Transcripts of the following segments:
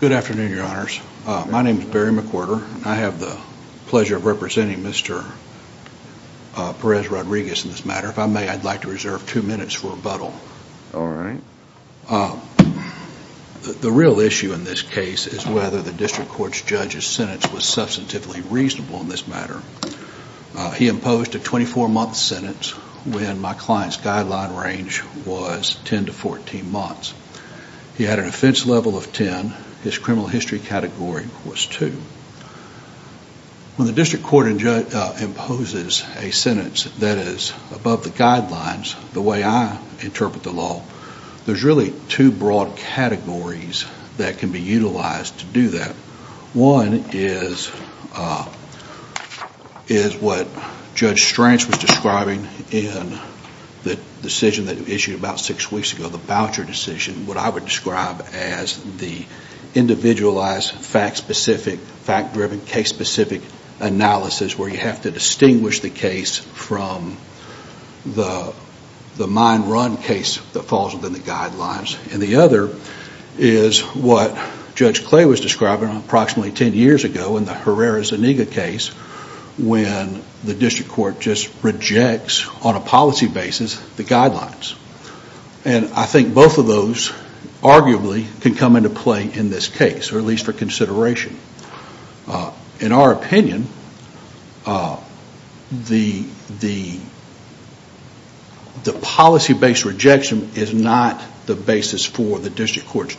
Good afternoon, your honors. My name is Barry McWhorter and I have the pleasure of representing Mr. Perez-Rodriguez in this matter. If I may, I'd like to reserve two minutes for rebuttal. The real issue in this case is whether the district court's judge's sentence was substantively reasonable in this matter. He imposed a 24-month sentence when my client's guideline range was 10 to 14 months. He had an offense level of 10. His criminal history category was 2. When the district court imposes a sentence that is above the guidelines, the way I interpret the law, there's really two broad categories that can be utilized to do that. One is what Judge Strange was describing in the decision that was issued about six weeks ago, the voucher decision, what I would describe as the individualized, fact-driven, case-specific analysis where you have to distinguish the case from the mind-run case that falls within the guidelines. And the other is what Judge Clay was describing approximately 10 years ago in the Herrera-Zuniga case when the district court just rejects, on a policy basis, the guidelines. And I think both of those arguably can come into play in this case, or at least for consideration. In our opinion, the policy-based rejection is not the basis for the district court's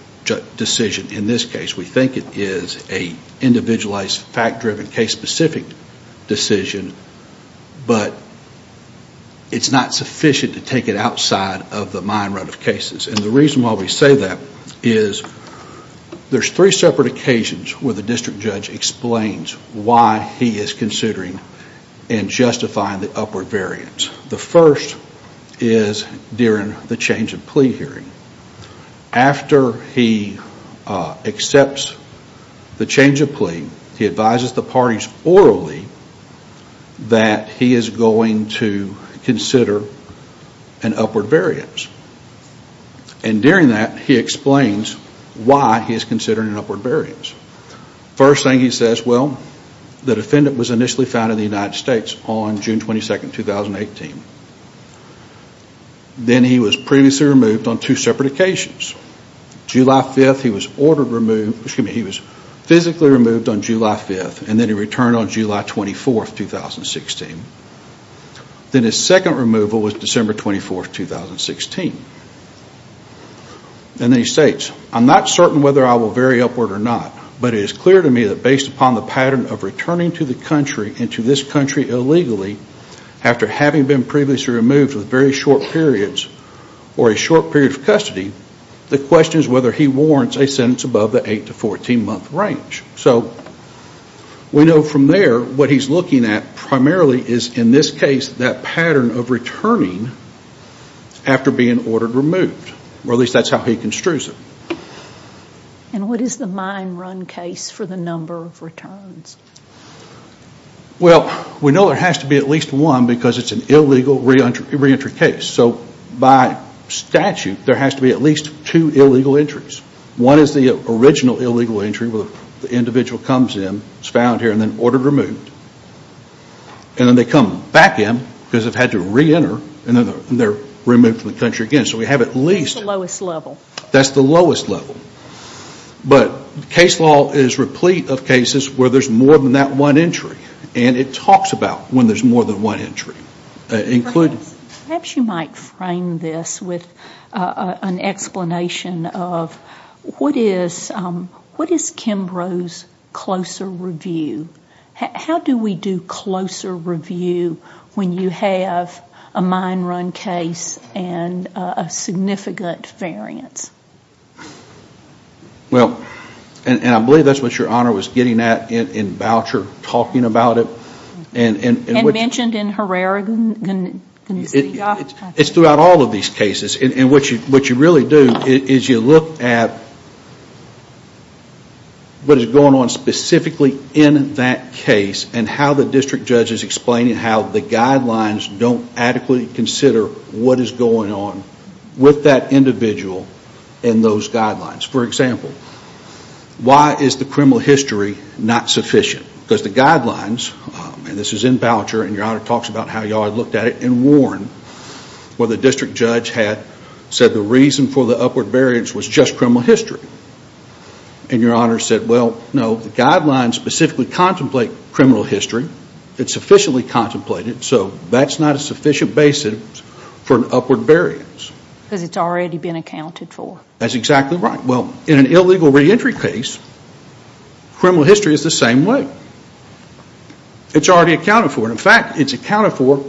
decision in this case. We think it is an individualized, fact-driven, case-specific decision, but it's not sufficient to take it outside of the mind-run of cases. And the reason why we say that is there's three separate occasions where the district judge explains why he is considering and justifying the upward variance. The first is during the change of plea hearing. After he accepts the change of plea, he advises the parties orally that he is going to consider an upward variance. And during that, he explains why he is considering an upward variance. First thing he says, well, the defendant was initially found in the United States on June 22nd, 2018. Then he was previously removed on two separate occasions. July 5th, he was physically removed on July 5th, and then he returned on July 24th, 2016. Then his second removal was December 24th, 2016. And then he states, I'm not certain whether I will vary upward or not, but it is clear to me that based upon the pattern of returning to the country and to this country illegally after having been previously removed with very short periods or a short period of custody, the question is whether he warrants a sentence above the 8 to 14 month range. So we know from there, what he is looking at primarily is, in this case, that pattern of returning after being ordered removed, or at least that is how he construes it. And what is the mine run case for the number of returns? Well, we know there has to be at least one because it is an illegal reentry case. So by statute, there has to be at least two illegal entries. One is the original illegal entry where the individual comes in, is found here, and then ordered removed, and then they come back in because they have had to reenter, and then they are removed from the country again. So we have at least. That is the lowest level. That is the lowest level. But case law is replete of cases where there is more than that one entry. And it talks about when there is more than one entry. Perhaps you might frame this with an explanation of what is Kimbrough's closer review? How do we do closer review when you have a mine run case and a significant variance? Well, and I believe that is what your Honor was getting at in Boucher, talking about it. And mentioned in Herrera? It is throughout all of these cases. And what you really do is you look at what is going on specifically in that case and how the district judge is explaining how the guidelines don't adequately consider what is going on with that individual in those guidelines. For example, why is the criminal history not sufficient? Because the guidelines, and this is in Boucher, and your Honor talks about how you all looked at it and warned where the district judge had said the reason for the upward variance was just criminal history. And your Honor said, well, no, the guidelines specifically contemplate criminal history. It is sufficiently contemplated. So that is not a sufficient basis for an upward variance. Because it has already been accounted for. That is exactly right. Well, in an illegal reentry case, criminal history is the same way. It is already accounted for. In fact, it is accounted for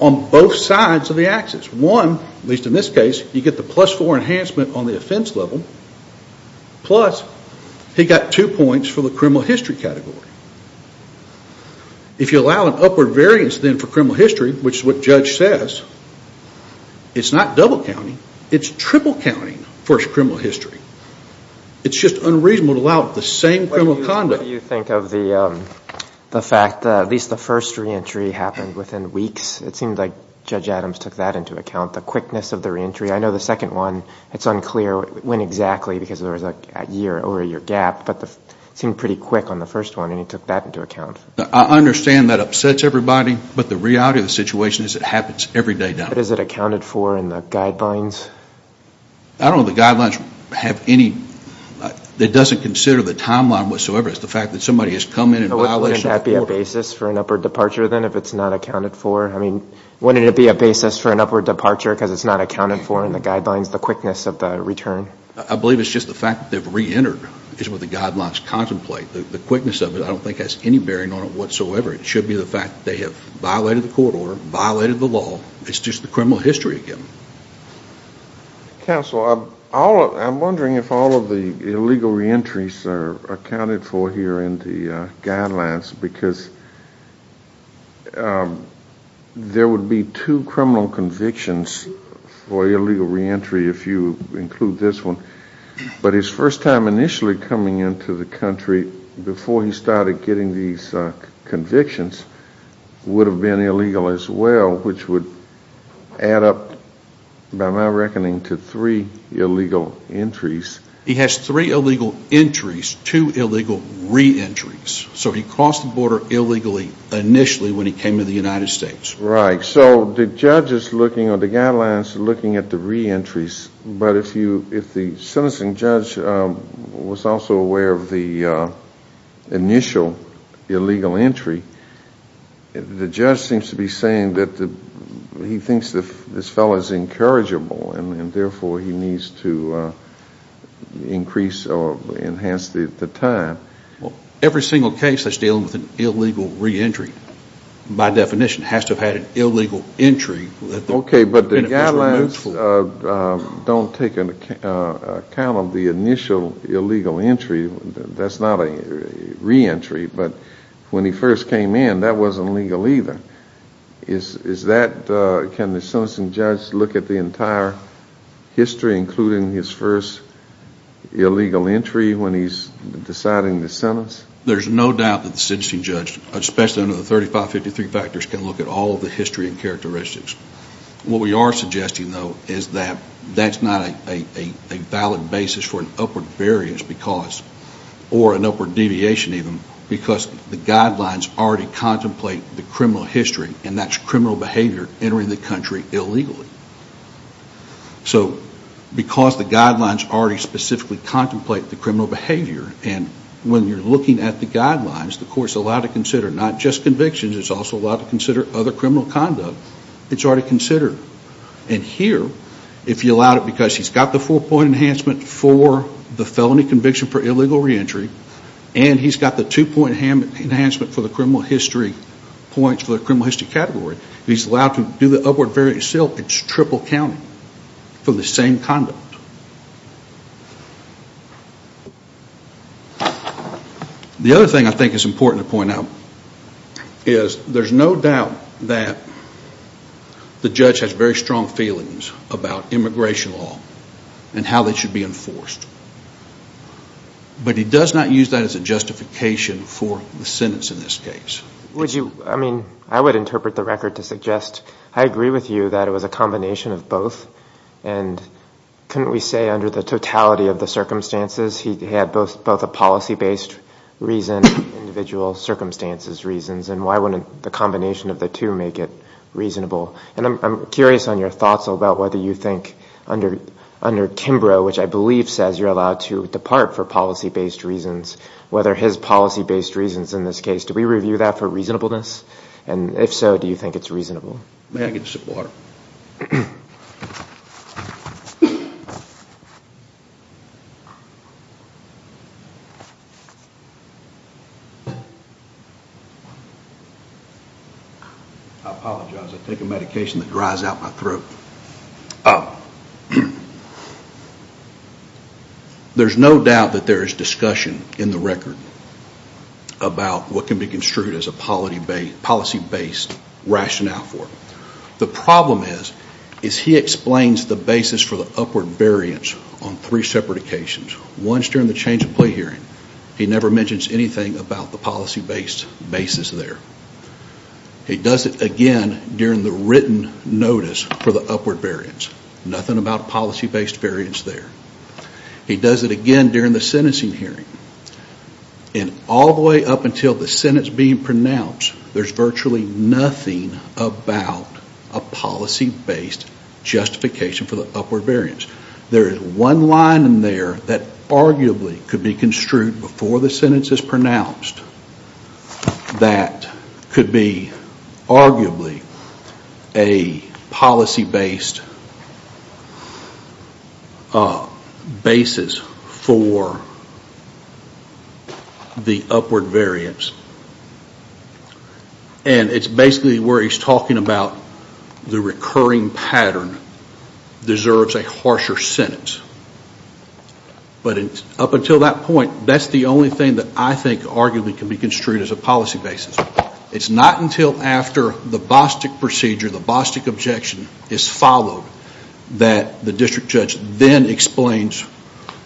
on both sides of the axis. One, at least in this case, you get the plus four enhancement on the offense level. Plus, he got two points for the criminal history category. If you allow an upward variance then for criminal history, which is what judge says, it is not double counting, it is triple counting for criminal history. It is just unreasonable to allow the same criminal conduct. What do you think of the fact that at least the first reentry happened within weeks? It seemed like Judge Adams took that into account, the quickness of the reentry. I know the second one, it is unclear when exactly because there was a year or a year gap, but it seemed pretty quick on the first one and he took that into account. I understand that upsets everybody, but the reality of the situation is it happens every day now. But is it accounted for in the guidelines? I don't know if the guidelines have any, it doesn't consider the timeline whatsoever. It is the fact that somebody has come in and violated. Wouldn't that be a basis for an upward departure then if it is not accounted for? I mean, wouldn't it be a basis for an upward departure because it is not accounted for in the guidelines, the quickness of the return? I believe it is just the fact that they have reentered is what the guidelines contemplate. The quickness of it I don't think has any bearing on it whatsoever. It should be the fact that they have violated the court order, violated the law. It is just the criminal history again. Counsel, I am wondering if all of the illegal reentries are accounted for here in the guidelines because there would be two criminal convictions for illegal reentry if you include this one, but his first time initially coming into the country before he started getting these convictions would have been illegal as well which would add up by my reckoning to three illegal entries. He has three illegal entries, two illegal reentries. So he crossed the border illegally initially when he came to the United States. Right. So the judge is looking or the guidelines are looking at the reentries, but if the sentencing judge was also aware of the initial illegal entry, the judge seems to be saying that he thinks this fellow is incorrigible and therefore he needs to increase or enhance the time. Every single case that is dealing with an illegal reentry by definition has to have had an illegal entry that the beneficiary moves for. Don't take into account of the initial illegal entry, that is not a reentry, but when he first came in that wasn't legal either. Is that, can the sentencing judge look at the entire history including his first illegal entry when he is deciding the sentence? There is no doubt that the sentencing judge, especially under the 3553 factors, can look at all of the history and characteristics. What we are suggesting though is that that is not a valid basis for an upward variance because or an upward deviation even because the guidelines already contemplate the criminal history and that is criminal behavior entering the country illegally. So because the guidelines already specifically contemplate the criminal behavior and when you are looking at the guidelines, the court is allowed to consider not just convictions, it is also allowed to consider other criminal conduct, it is already considered. And here, if you allow it because he has the four point enhancement for the felony conviction for illegal reentry and he has the two point enhancement for the criminal history points for the criminal history category, he is allowed to do the upward variance itself, it is triple counting for the same conduct. The other thing I think is important to point out is there is no doubt that the judge has very strong feelings about immigration law and how it should be enforced. But he does not use that as a justification for the sentence in this case. Would you, I mean, I would interpret the record to suggest, I agree with you that it was a combination of both and connecting the two, but why wouldn't we say under the totality of the circumstances he had both a policy-based reason and individual circumstances reasons and why wouldn't the combination of the two make it reasonable? And I am curious on your thoughts about whether you think under Kimbrough, which I believe says you are allowed to depart for policy-based reasons, whether his policy-based reasons in this case, do we review that for reasonableness? And if so, do you think it is reasonable? May I get a sip of water? I apologize, I take a medication that dries out my throat. There is no doubt that there is discussion in the record about what can be construed as a policy-based rationale for it. The problem is, is he explains the basis for the upward variance on three separate occasions. Once during the change of plea hearing, he never mentions anything about the policy-based basis there. He does it again during the written notice for the upward variance. Nothing about policy-based variance there. He does it again during the sentencing hearing. And all the way up until the sentence being pronounced, there is virtually nothing about a policy-based justification for the upward variance. There is one line in there that arguably could be construed before the sentence is pronounced that could be arguably a policy-based basis for the upward variance. And it is basically where he is talking about the recurring pattern deserves a harsher sentence. But up until that point, that is the only thing that I think arguably can be construed as a policy basis. It is not until after the Bostic procedure, the Bostic objection is followed that the district judge then explains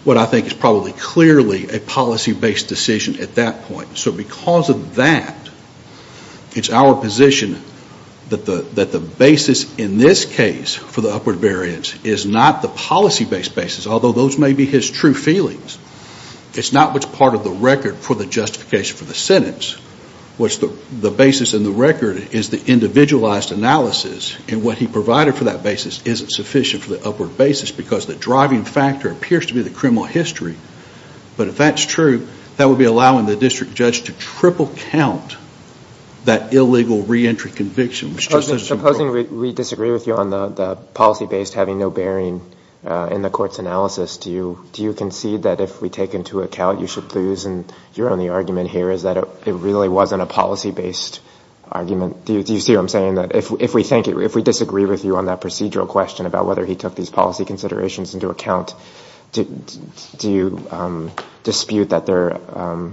what I think is probably clearly a policy-based decision at that point. So because of that, it is our position that the basis in this case for the upward variance is not the policy-based basis, although those may be his true feelings. It is not what is part of the record for the justification for the sentence. What is the basis in the record is the individualized analysis. And what he provided for that basis is not sufficient for the upward basis because the driving factor appears to be the criminal history. But if that is true, that would be allowing the district judge to triple count that illegal reentry conviction. Supposing we disagree with you on the policy-based having no bearing in the court's analysis, do you concede that if we take into account you should lose and your only argument here is that it really wasn't a policy-based argument? Do you see what I am saying? If we disagree with you on that procedural question about whether he took these policy considerations into account, do you dispute that they are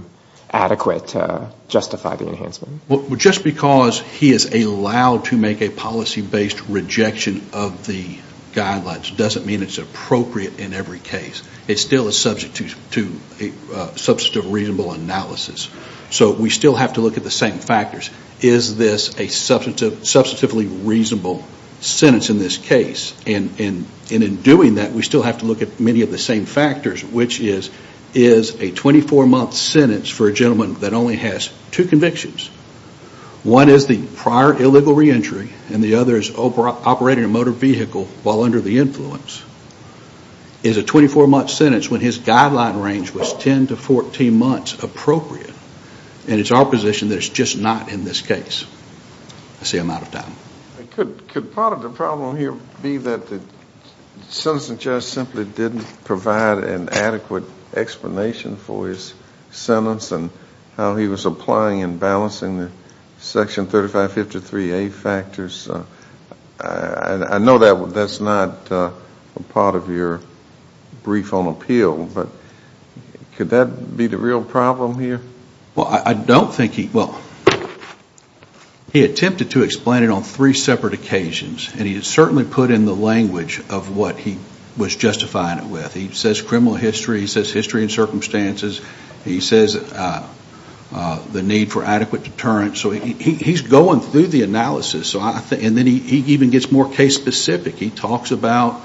adequate to justify the enhancement? Just because he is allowed to make a policy-based rejection of the guidelines doesn't mean it is appropriate in every case. It still is subject to a substantive reasonable analysis. So we still have to look at the same factors. Is this a substantively reasonable sentence in this case? And in doing that, we still have to look at many of the same factors, which is a 24-month sentence for a gentleman that only has two convictions. One is the prior illegal reentry and the other is operating a motor vehicle while under the influence. Is a 24-month sentence when his guideline range was 10 to 14 months appropriate? And it is our position that it is just not in this case. I see I am out of time. Could part of the problem here be that the sentencing judge simply didn't provide an adequate explanation for his sentence and how he was applying and balancing the Section 3553A factors? I know that is not part of your brief on appeal, but could that be the real problem here? Well, I don't think he... He attempted to explain it on three separate occasions and he certainly put in the language of what he was justifying it with. He says criminal history, he says history and circumstances, he says the need for adequate deterrence. So he is going through the analysis and then he even gets more case specific. He talks about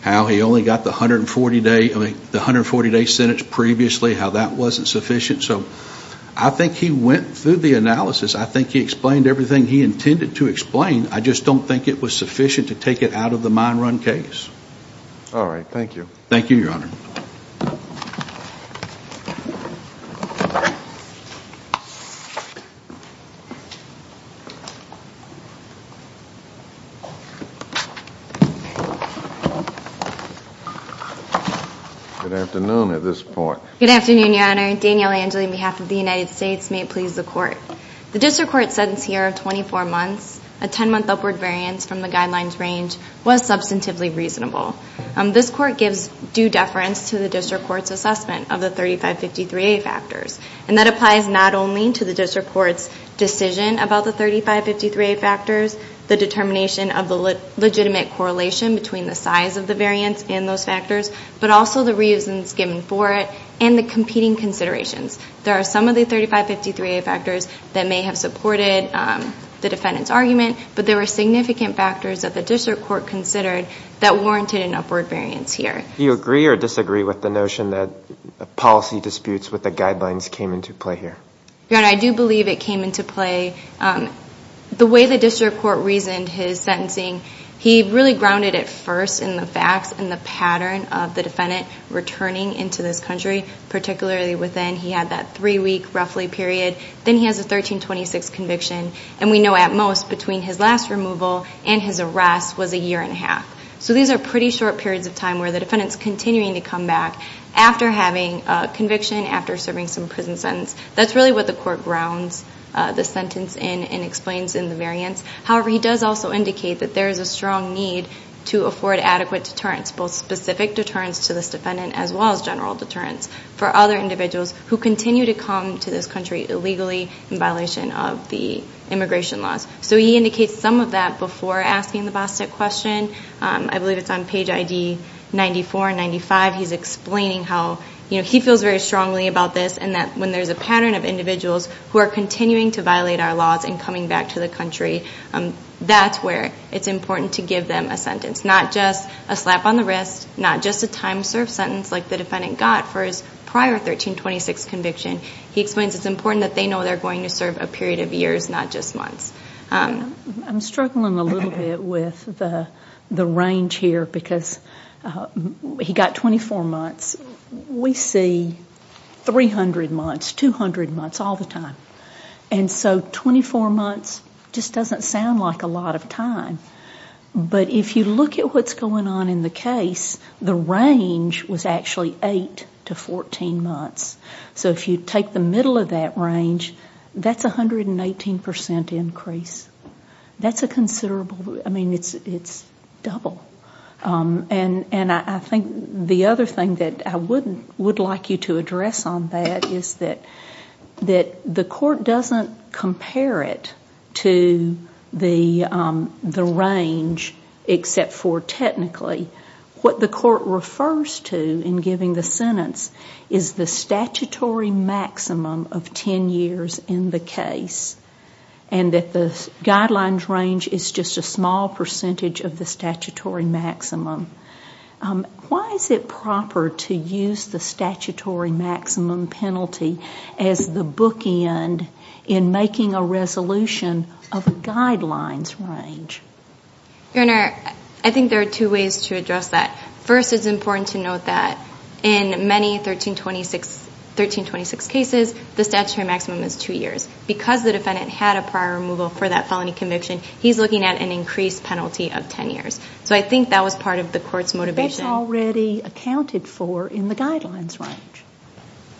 how he only got the 140-day sentence previously, how that wasn't sufficient. So I think he went through the analysis. I think he explained everything he intended to explain. I just don't think it was sufficient to take it out of the mine run case. All right. Thank you. Thank you, Your Honor. Good afternoon at this point. Good afternoon, Your Honor. Danielle Angeli on behalf of the United States may please the Court. The District Court sentence here of 24 months, a 10-month upward variance from the guidelines range, was substantively reasonable. This Court gives due deference to the District Court's assessment of the 3553A factors. And that applies not only to the District Court's decision about the 3553A factors, the determination of the legitimate correlation between the size of the variance and those factors, but also the reasons given for it and the competing considerations. There are some of the 3553A factors that may have supported the defendant's argument, but there were significant factors that the District Court considered that warranted an upward variance here. Do you agree or disagree with the notion that policy disputes with the guidelines came into play here? Your Honor, I do believe it came into play. The way the District Court reasoned his sentencing, he really grounded it first in the facts and the pattern of the defendant returning into this country, particularly within. He had that 3-week, roughly, period. Then he has a 1326 conviction. And we know, at most, between his last removal and his arrest was a year and a half. So these are pretty short periods of time where the defendant's continuing to come back after having a conviction, after serving some prison sentence. That's really what the Court grounds the sentence in and explains in the variance. However, he does also indicate that there is a strong need to afford adequate deterrence, both specific deterrence to this defendant as well as general deterrence for other individuals who continue to come to this country illegally in violation of the immigration laws. So he indicates some of that before asking the BOSTEC question. I believe it's on page ID 94 and 95. He's explaining how he feels very strongly about this and that when there's a pattern of individuals who are continuing to violate our laws and coming back to the country, that's where it's important to give them a sentence. Not just a slap on the wrist, not just a time-served sentence like the defendant got for his prior 1326 conviction. He explains it's important that they know they're going to serve a period of years, not just months. I'm struggling a little bit with the range here because he got 24 months. We see 300 months, 200 months, all the time. And so 24 months just doesn't sound like a lot of time. But if you look at what's going on in the case, the range was actually 8 to 14 months. So if you take the middle of that range, that's a 118% increase. That's a considerable... I mean, it's double. And I think the other thing that I would like you to address on that is that the court doesn't compare it to the range except for technically. What the court refers to in giving the sentence is the statutory maximum of 10 years in the case and that the guidelines range is just a small percentage of the statutory maximum. Why is it proper to use the statutory maximum penalty as the bookend in making a resolution of a guidelines range? Your Honor, I think there are two ways to address that. First, it's important to note that in many 1326 cases, the statutory maximum is 2 years. Because the defendant had a prior removal for that felony conviction, he's looking at an increased penalty of 10 years. So I think that was part of the court's motivation. That's already accounted for in the guidelines range.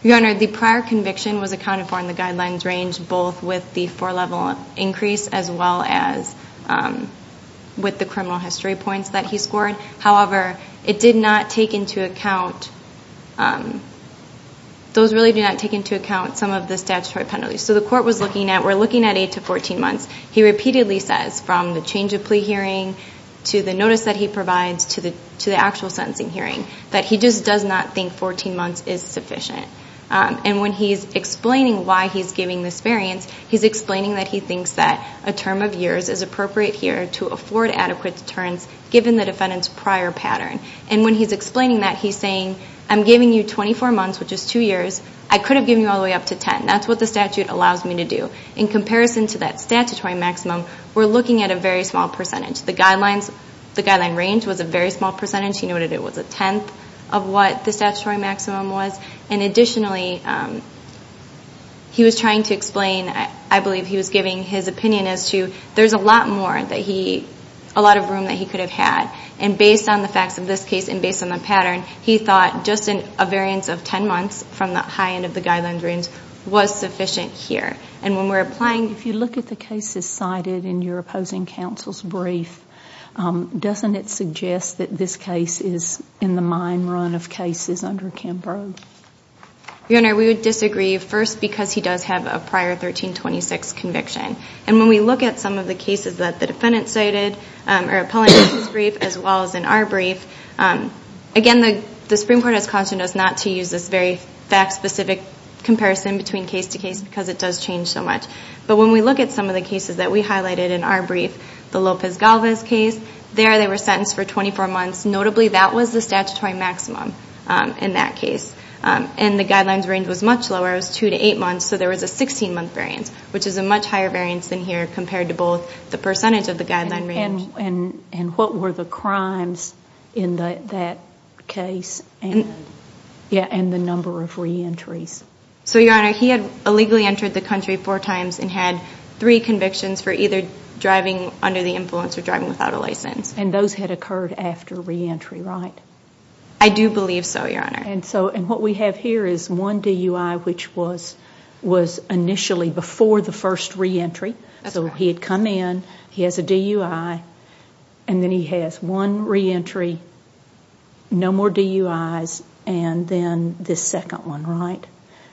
Your Honor, the prior conviction was accounted for in the guidelines range both with the four-level increase as well as with the criminal history points that he scored. However, it did not take into account... Those really do not take into account some of the statutory penalties. So the court was looking at... We're looking at 8 to 14 months. He repeatedly says, from the change of plea hearing to the notice that he provides to the actual sentencing hearing, that he just does not think 14 months is sufficient. And when he's explaining why he's giving this variance, he's explaining that he thinks that a term of years is appropriate here to afford adequate deterrence given the defendant's prior pattern. And when he's explaining that, he's saying, I'm giving you 24 months, which is 2 years. I could have given you all the way up to 10. That's what the statute allows me to do. In comparison to that statutory maximum, we're looking at a very small percentage. The guideline range was a very small percentage. He noted it was a tenth of what the statutory maximum was. And additionally, he was trying to explain... I believe he was giving his opinion as to there's a lot more that he... a lot of room that he could have had. And based on the facts of this case and based on the pattern, he thought just a variance of 10 months from the high end of the guideline range was sufficient here. And when we're applying... in your opposing counsel's brief, doesn't it suggest that this case is in the mine run of cases under Kambrogue? Your Honor, we would disagree first because he does have a prior 1326 conviction. And when we look at some of the cases that the defendant cited as well as in our brief, again, the Supreme Court has cautioned us not to use this very fact-specific comparison between case to case because it does change so much. But when we look at some of the cases that we highlighted in our brief, the Lopez-Galvez case, there they were sentenced for 24 months. Notably, that was the statutory maximum in that case. And the guidelines range was much lower. It was two to eight months, so there was a 16-month variance, which is a much higher variance than here compared to both the percentage of the guideline range. And what were the crimes in that case and the number of re-entries? So, Your Honor, he had illegally entered the country four times and had three convictions for either driving under the influence or driving without a license. And those had occurred after re-entry, right? I do believe so, Your Honor. And what we have here is one DUI which was initially before the first re-entry. So he had come in, he has a DUI, and then he has one re-entry, no more DUIs, and then this second one, right?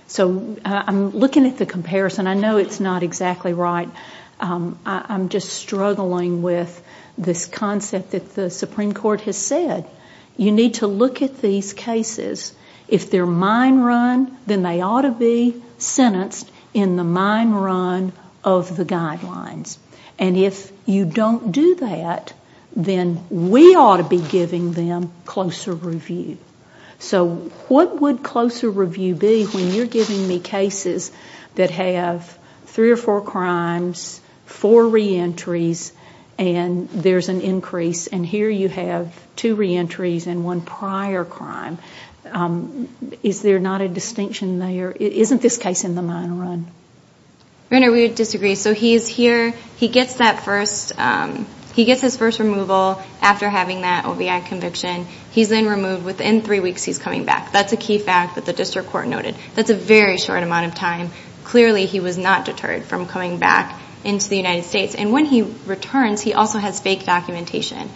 So I'm looking at the comparison. I know it's not exactly right. I'm just struggling with this concept that the Supreme Court has said. You need to look at these cases. If they're mine run, then they ought to be sentenced in the mine run of the guidelines. And if you don't do that, then we ought to be giving them closer review. So what would closer review be when you're giving me cases that have three or four crimes, four re-entries, and there's an increase, and here you have two re-entries and one prior crime. Is there not a distinction there? Isn't this case in the mine run? Your Honor, we would disagree. So he's here, he gets that first removal after having that OVI conviction. He's then removed. Within three weeks, he's coming back. That's a key fact that the district court noted. That's a very short amount of time. Clearly, he was not deterred from coming back into the United States. And when he returns, he also has fake documentation.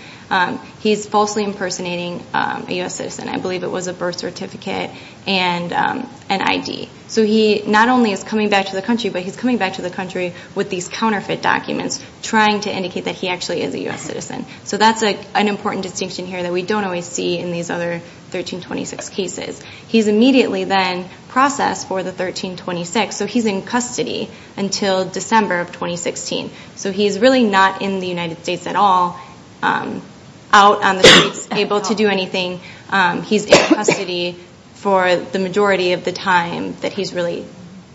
He's falsely impersonating a U.S. citizen. I believe it was a birth certificate and an ID. So he not only is coming back to the country, but he's coming back to the country with these counterfeit documents trying to indicate that he actually is a U.S. citizen. So that's an important distinction here that we don't always see in these other 1326 cases. He's immediately then processed for the 1326. So he's in custody until December of 2016. So he's really not in the United States at all. Out on the streets, able to do anything. He's in custody for the majority of the time that he's really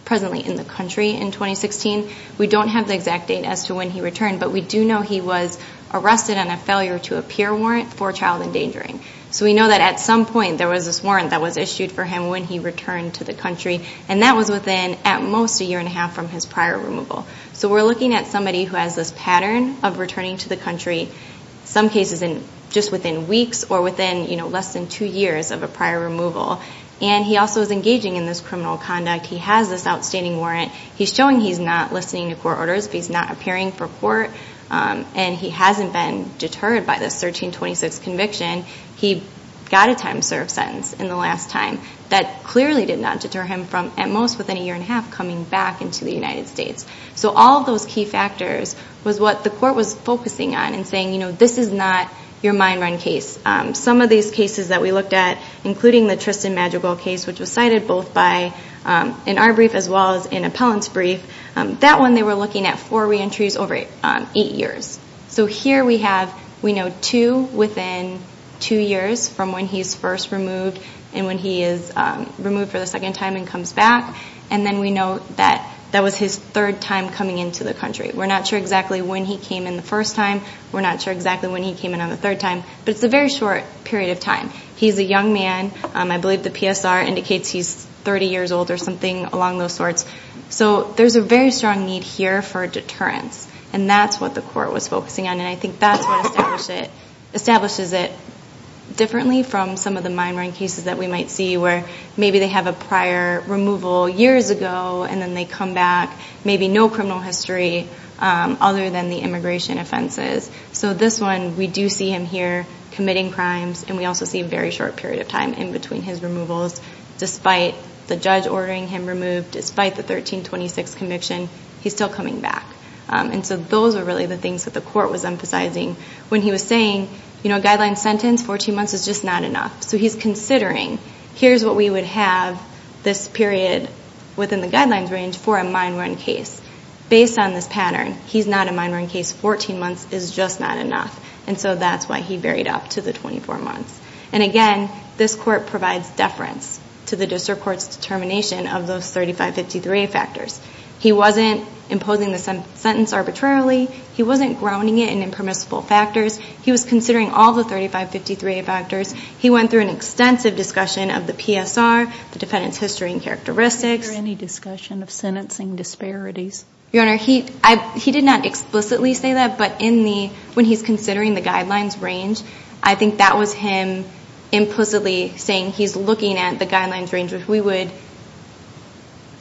presently in the country in 2016. We don't have the exact date as to when he returned, but we do know he was arrested on a failure-to-appear warrant for child endangering. So we know that at some point, there was this warrant that was issued for him when he returned to the country, and that was within, at most, a year and a half from his prior removal. So we're looking at somebody who has this pattern of returning to the country some cases just within weeks or within less than two years of a prior removal. And he also is engaging in this criminal conduct. He has this outstanding warrant. He's showing he's not listening to court orders. He's not appearing for court. And he hasn't been deterred by this 1326 conviction. He got a time-served sentence in the last time. That clearly did not deter him from, at most, within a year and a half, coming back into the United States. So all those key factors was what the court was focusing on and saying, you know, this is not your mind-run case. Some of these cases that we looked at, including the Tristan Madrigal case, which was cited both by in our brief as well as in Appellant's brief, that one they were looking at four re-entries over eight years. So here we have, we know two within two years from when he's first removed and when he is removed for the second time and comes back. And then we know that that was his third time coming into the country. We're not sure exactly when he came in the first time. We're not sure exactly when he came in on the third time. But it's a very short period of time. He's a young man. I believe the PSR indicates he's 30 years old or something along those sorts. So there's a very strong need here for a deterrence. And that's what the court was focusing on. And I think that's what establishes it differently from some of the mind-run cases that we might see where maybe they have a prior removal years ago and then they come back, maybe no criminal history other than the immigration offenses. So this one, we do see him here committing crimes and we also see a very short period of time in between his removals despite the judge ordering him removed despite the 1326 conviction he's still coming back. And so those are really the things that the court was emphasizing when he was saying a guideline sentence, 14 months, is just not enough. So he's considering here's what we would have this period within the guidelines range for a mind-run case. Based on this pattern, he's not a mind-run case 14 months is just not enough. And so that's why he buried up to the 24 months. And again, this court provides deference to the district court's determination of those 3553A factors. He wasn't imposing the sentence arbitrarily he wasn't grounding it in impermissible factors. He was considering all the 3553A factors he went through an extensive discussion of the PSR, the defendant's history and characteristics. Is there any discussion of sentencing disparities? Your Honor, he did not explicitly say that, but when he's considering the guidelines range, I think that was him implicitly saying he's looking at the guidelines range which we would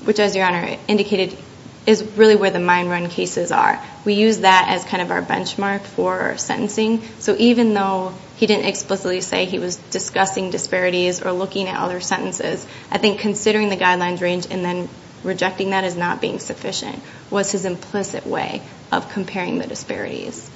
which as Your Honor indicated is really where the mind-run cases are. We use that as kind of our benchmark for sentencing. So even though he didn't explicitly say he was discussing disparities or looking at other sentences, I think considering the guidelines range and then rejecting that as not being sufficient was his implicit way of comparing the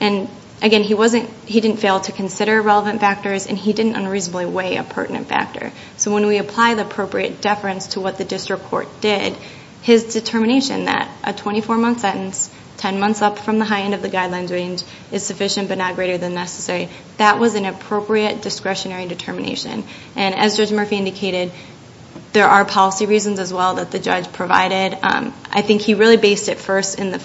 And again he wasn't he didn't fail to consider relevant factors and he didn't unreasonably weigh a pertinent factor. So when we apply the appropriate deference to what the district court did his determination that a 24 month sentence, 10 months up from the high end of the guidelines range is sufficient but not greater than necessary that was an appropriate discretionary determination. And as Judge Murphy indicated there are policy reasons as well that the judge provided I think he really based it first in the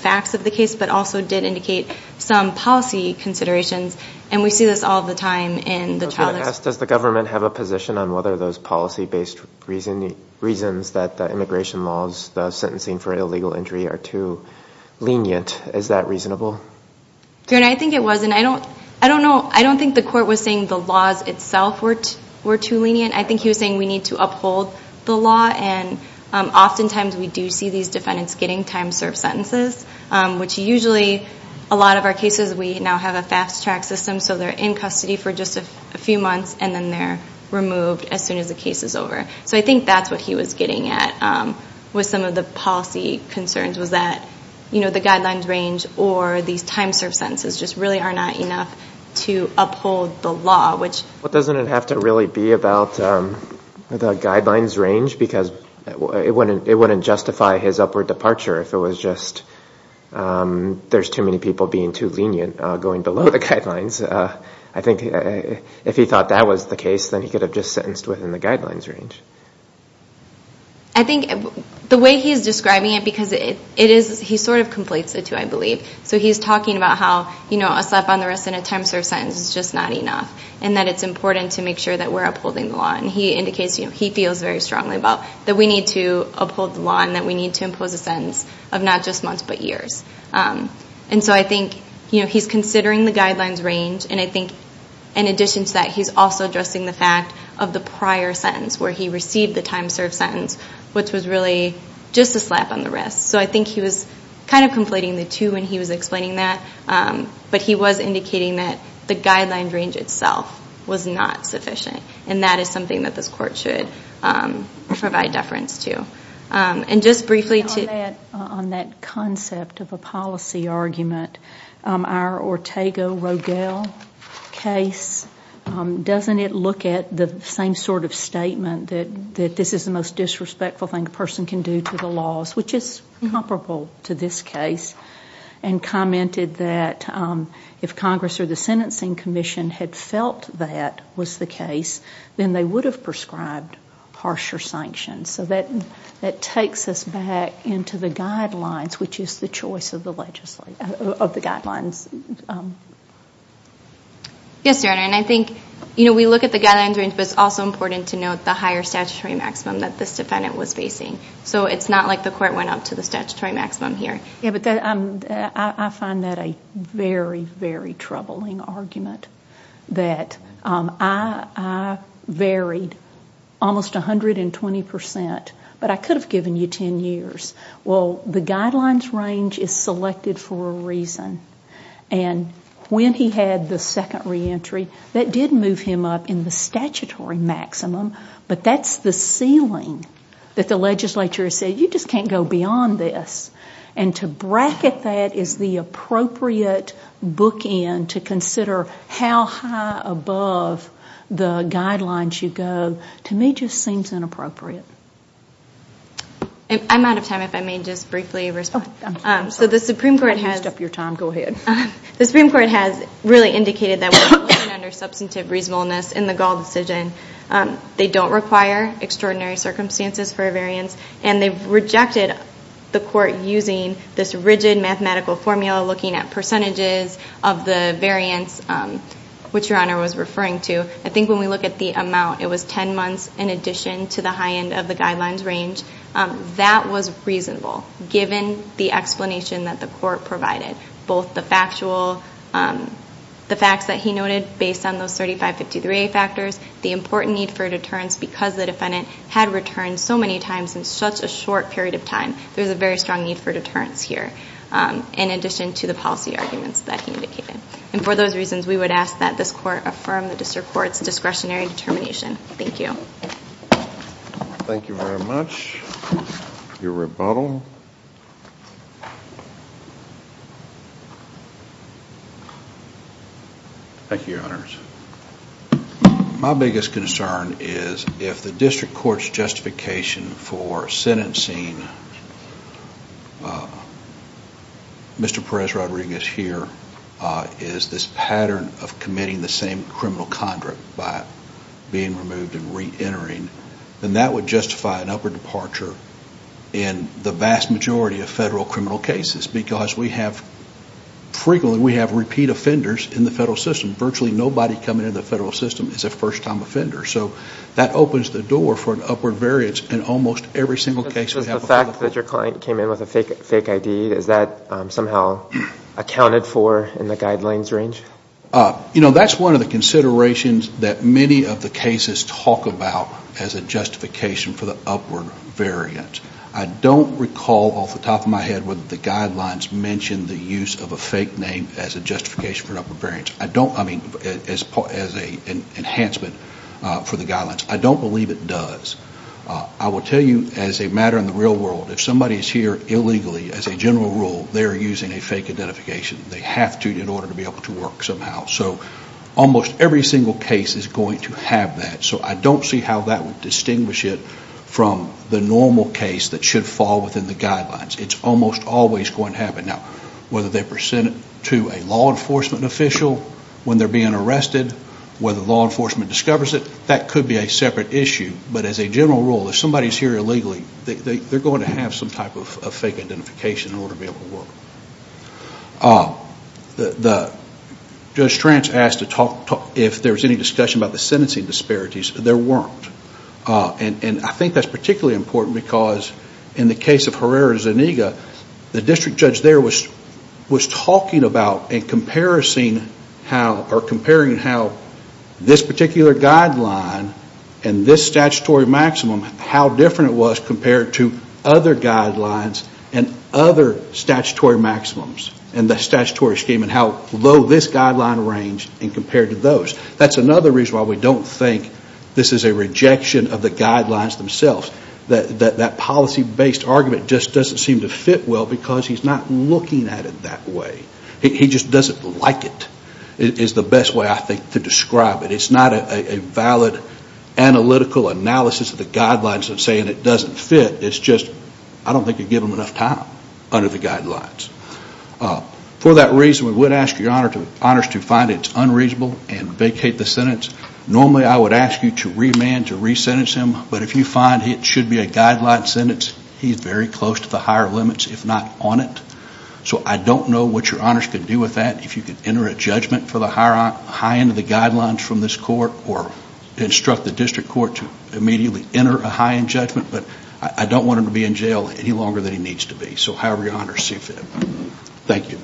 some policy considerations and we see this all the time Does the government have a position on whether those policy based reasons that the immigration laws the sentencing for illegal injury are too lenient? Is that reasonable? Your Honor I think it was and I don't know, I don't think the court was saying the laws itself were too lenient. I think he was saying we need to uphold the law and often times we do see these defendants getting time served sentences which usually a lot of our cases we now have a fast track system so they're in custody for just a few months and then they're removed as soon as the case is over so I think that's what he was getting at with some of the policy concerns was that the guidelines range or these time served sentences just really are not enough to uphold the law Doesn't it have to really be about the guidelines range because it wouldn't justify his upward departure if it was just there's too many people being too lenient going below the guidelines. I think if he thought that was the case then he could have just sentenced within the guidelines range I think the way he's describing it because he sort of conflates the two I believe so he's talking about how a slap on the wrist and a time served sentence is just not enough and that it's important to make sure that we're upholding the law and he indicates he feels very strongly about that we need to uphold the law and that we need to impose a sentence of not just months but years and so I think he's considering the guidelines range and I think in addition to that he's also addressing the fact of the prior sentence where he received the time served sentence which was really just a slap on the wrist so I think he was kind of conflating the two when he was explaining that but he was indicating that the guidelines range itself was not sufficient and that is something that this court should provide deference to and just briefly on that concept of a policy argument our Ortega-Rogel case doesn't it look at the same sort of statement that this is the most disrespectful thing a person can do to the laws which is comparable to this case and commented that if Congress or the Sentencing Commission had felt that was the harsher sanctions so that takes us back into the guidelines which is the choice of the guidelines Yes Sarah and I think we look at the guidelines range but it's also important to note the higher statutory maximum that this defendant was facing so it's not like the court went up to the statutory maximum here I find that a very very troubling argument that I Sarah varied almost 120% but I could have given you 10 years well the guidelines range is selected for a reason and when he had the second re-entry that did move him up in the statutory maximum but that's the ceiling that the legislature said you just can't go beyond this and to bracket that is the appropriate bookend to consider how high above the guidelines you go to me just seems inappropriate I'm out of time if I may just briefly respond so the Supreme Court has the Supreme Court has really indicated that we're looking under substantive reasonableness in the Gall decision they don't require extraordinary circumstances for a variance and they've rejected the court using this rigid mathematical formula looking at percentages of the variance which your honor was referring to I think when we look at the amount it was 10 months in addition to the high end of the guidelines range that was reasonable given the explanation that the court provided both the factual the facts that he noted based on those 3553a factors the important need for deterrence because the defendant had returned so many times in such a short period of time there's a very strong need for deterrence here in addition to the policy arguments that he indicated and for those reasons we would ask that this court affirm the district court's discretionary determination thank you thank you very much your rebuttal thank you your honors my biggest concern is if the district court's justification for sentencing Mr. Perez Rodriguez here is this pattern of committing the same criminal conduct by being removed and re-entering then that would justify an upward departure in the vast majority of federal criminal cases because we have frequently we have repeat offenders in the federal system virtually nobody coming into the federal system is a first time offender so that opens the door for an upward variance in almost every single case the fact that your client came in with a fake ID is that somehow accounted for in the guidelines range you know that's one of the considerations that many of the cases talk about as a justification for the upward variance I don't recall off the top of my head whether the guidelines mention the use of a fake name as a justification for an upward variance I mean as a enhancement for the guidelines I don't believe it does I will tell you as a matter in the real world if somebody is here illegally as a general rule they are using a fake identification they have to in order to be able to work somehow so almost every single case is going to have that so I don't see how that would distinguish it from the normal case that should fall within the guidelines it's almost always going to happen now whether they present it to a law enforcement official when they're being arrested whether law enforcement discovers it that could be a separate issue but as a general rule if somebody is here illegally they're going to have some type of fake identification in order to be able to work Judge Trance asked if there was any discussion about the sentencing disparities there weren't and I think that's particularly important because in the case of Herrera Zuniga the district judge there was talking about and comparison comparing how this particular guideline and this statutory maximum how different it was compared to other guidelines and other statutory maximums and the statutory scheme and how low this guideline range compared to those that's another reason why we don't think this is a rejection of the guidelines themselves that policy based argument just doesn't seem to fit well because he's not looking at it that way he just doesn't like it is the best way I think to describe it it's not a valid analytical analysis of the guidelines of saying it doesn't fit it's just I don't think you give them enough time under the guidelines for that reason we would ask your honors to find it unreasonable and vacate the sentence normally I would ask you to remand to resentence him but if you find it should be a guideline sentence he's very close to the higher limits if not on it so I don't know what your honors can do with that if you can enter a judgment for the high end of the guidelines from this court or instruct the district court to immediately enter a high end judgment but I don't want him to be in jail any longer than he needs to be so however your honors see fit thank you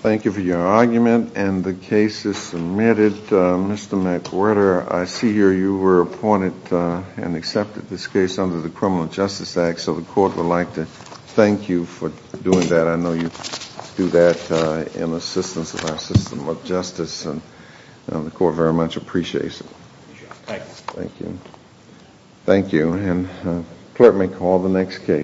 thank you for your argument and the case is submitted Mr. McWhirter I see here you were appointed and accepted this case under the criminal justice act so the court would like to thank you for doing that I know you do that in assistance of justice the court very much appreciates it thank you thank you and clerk may call the next case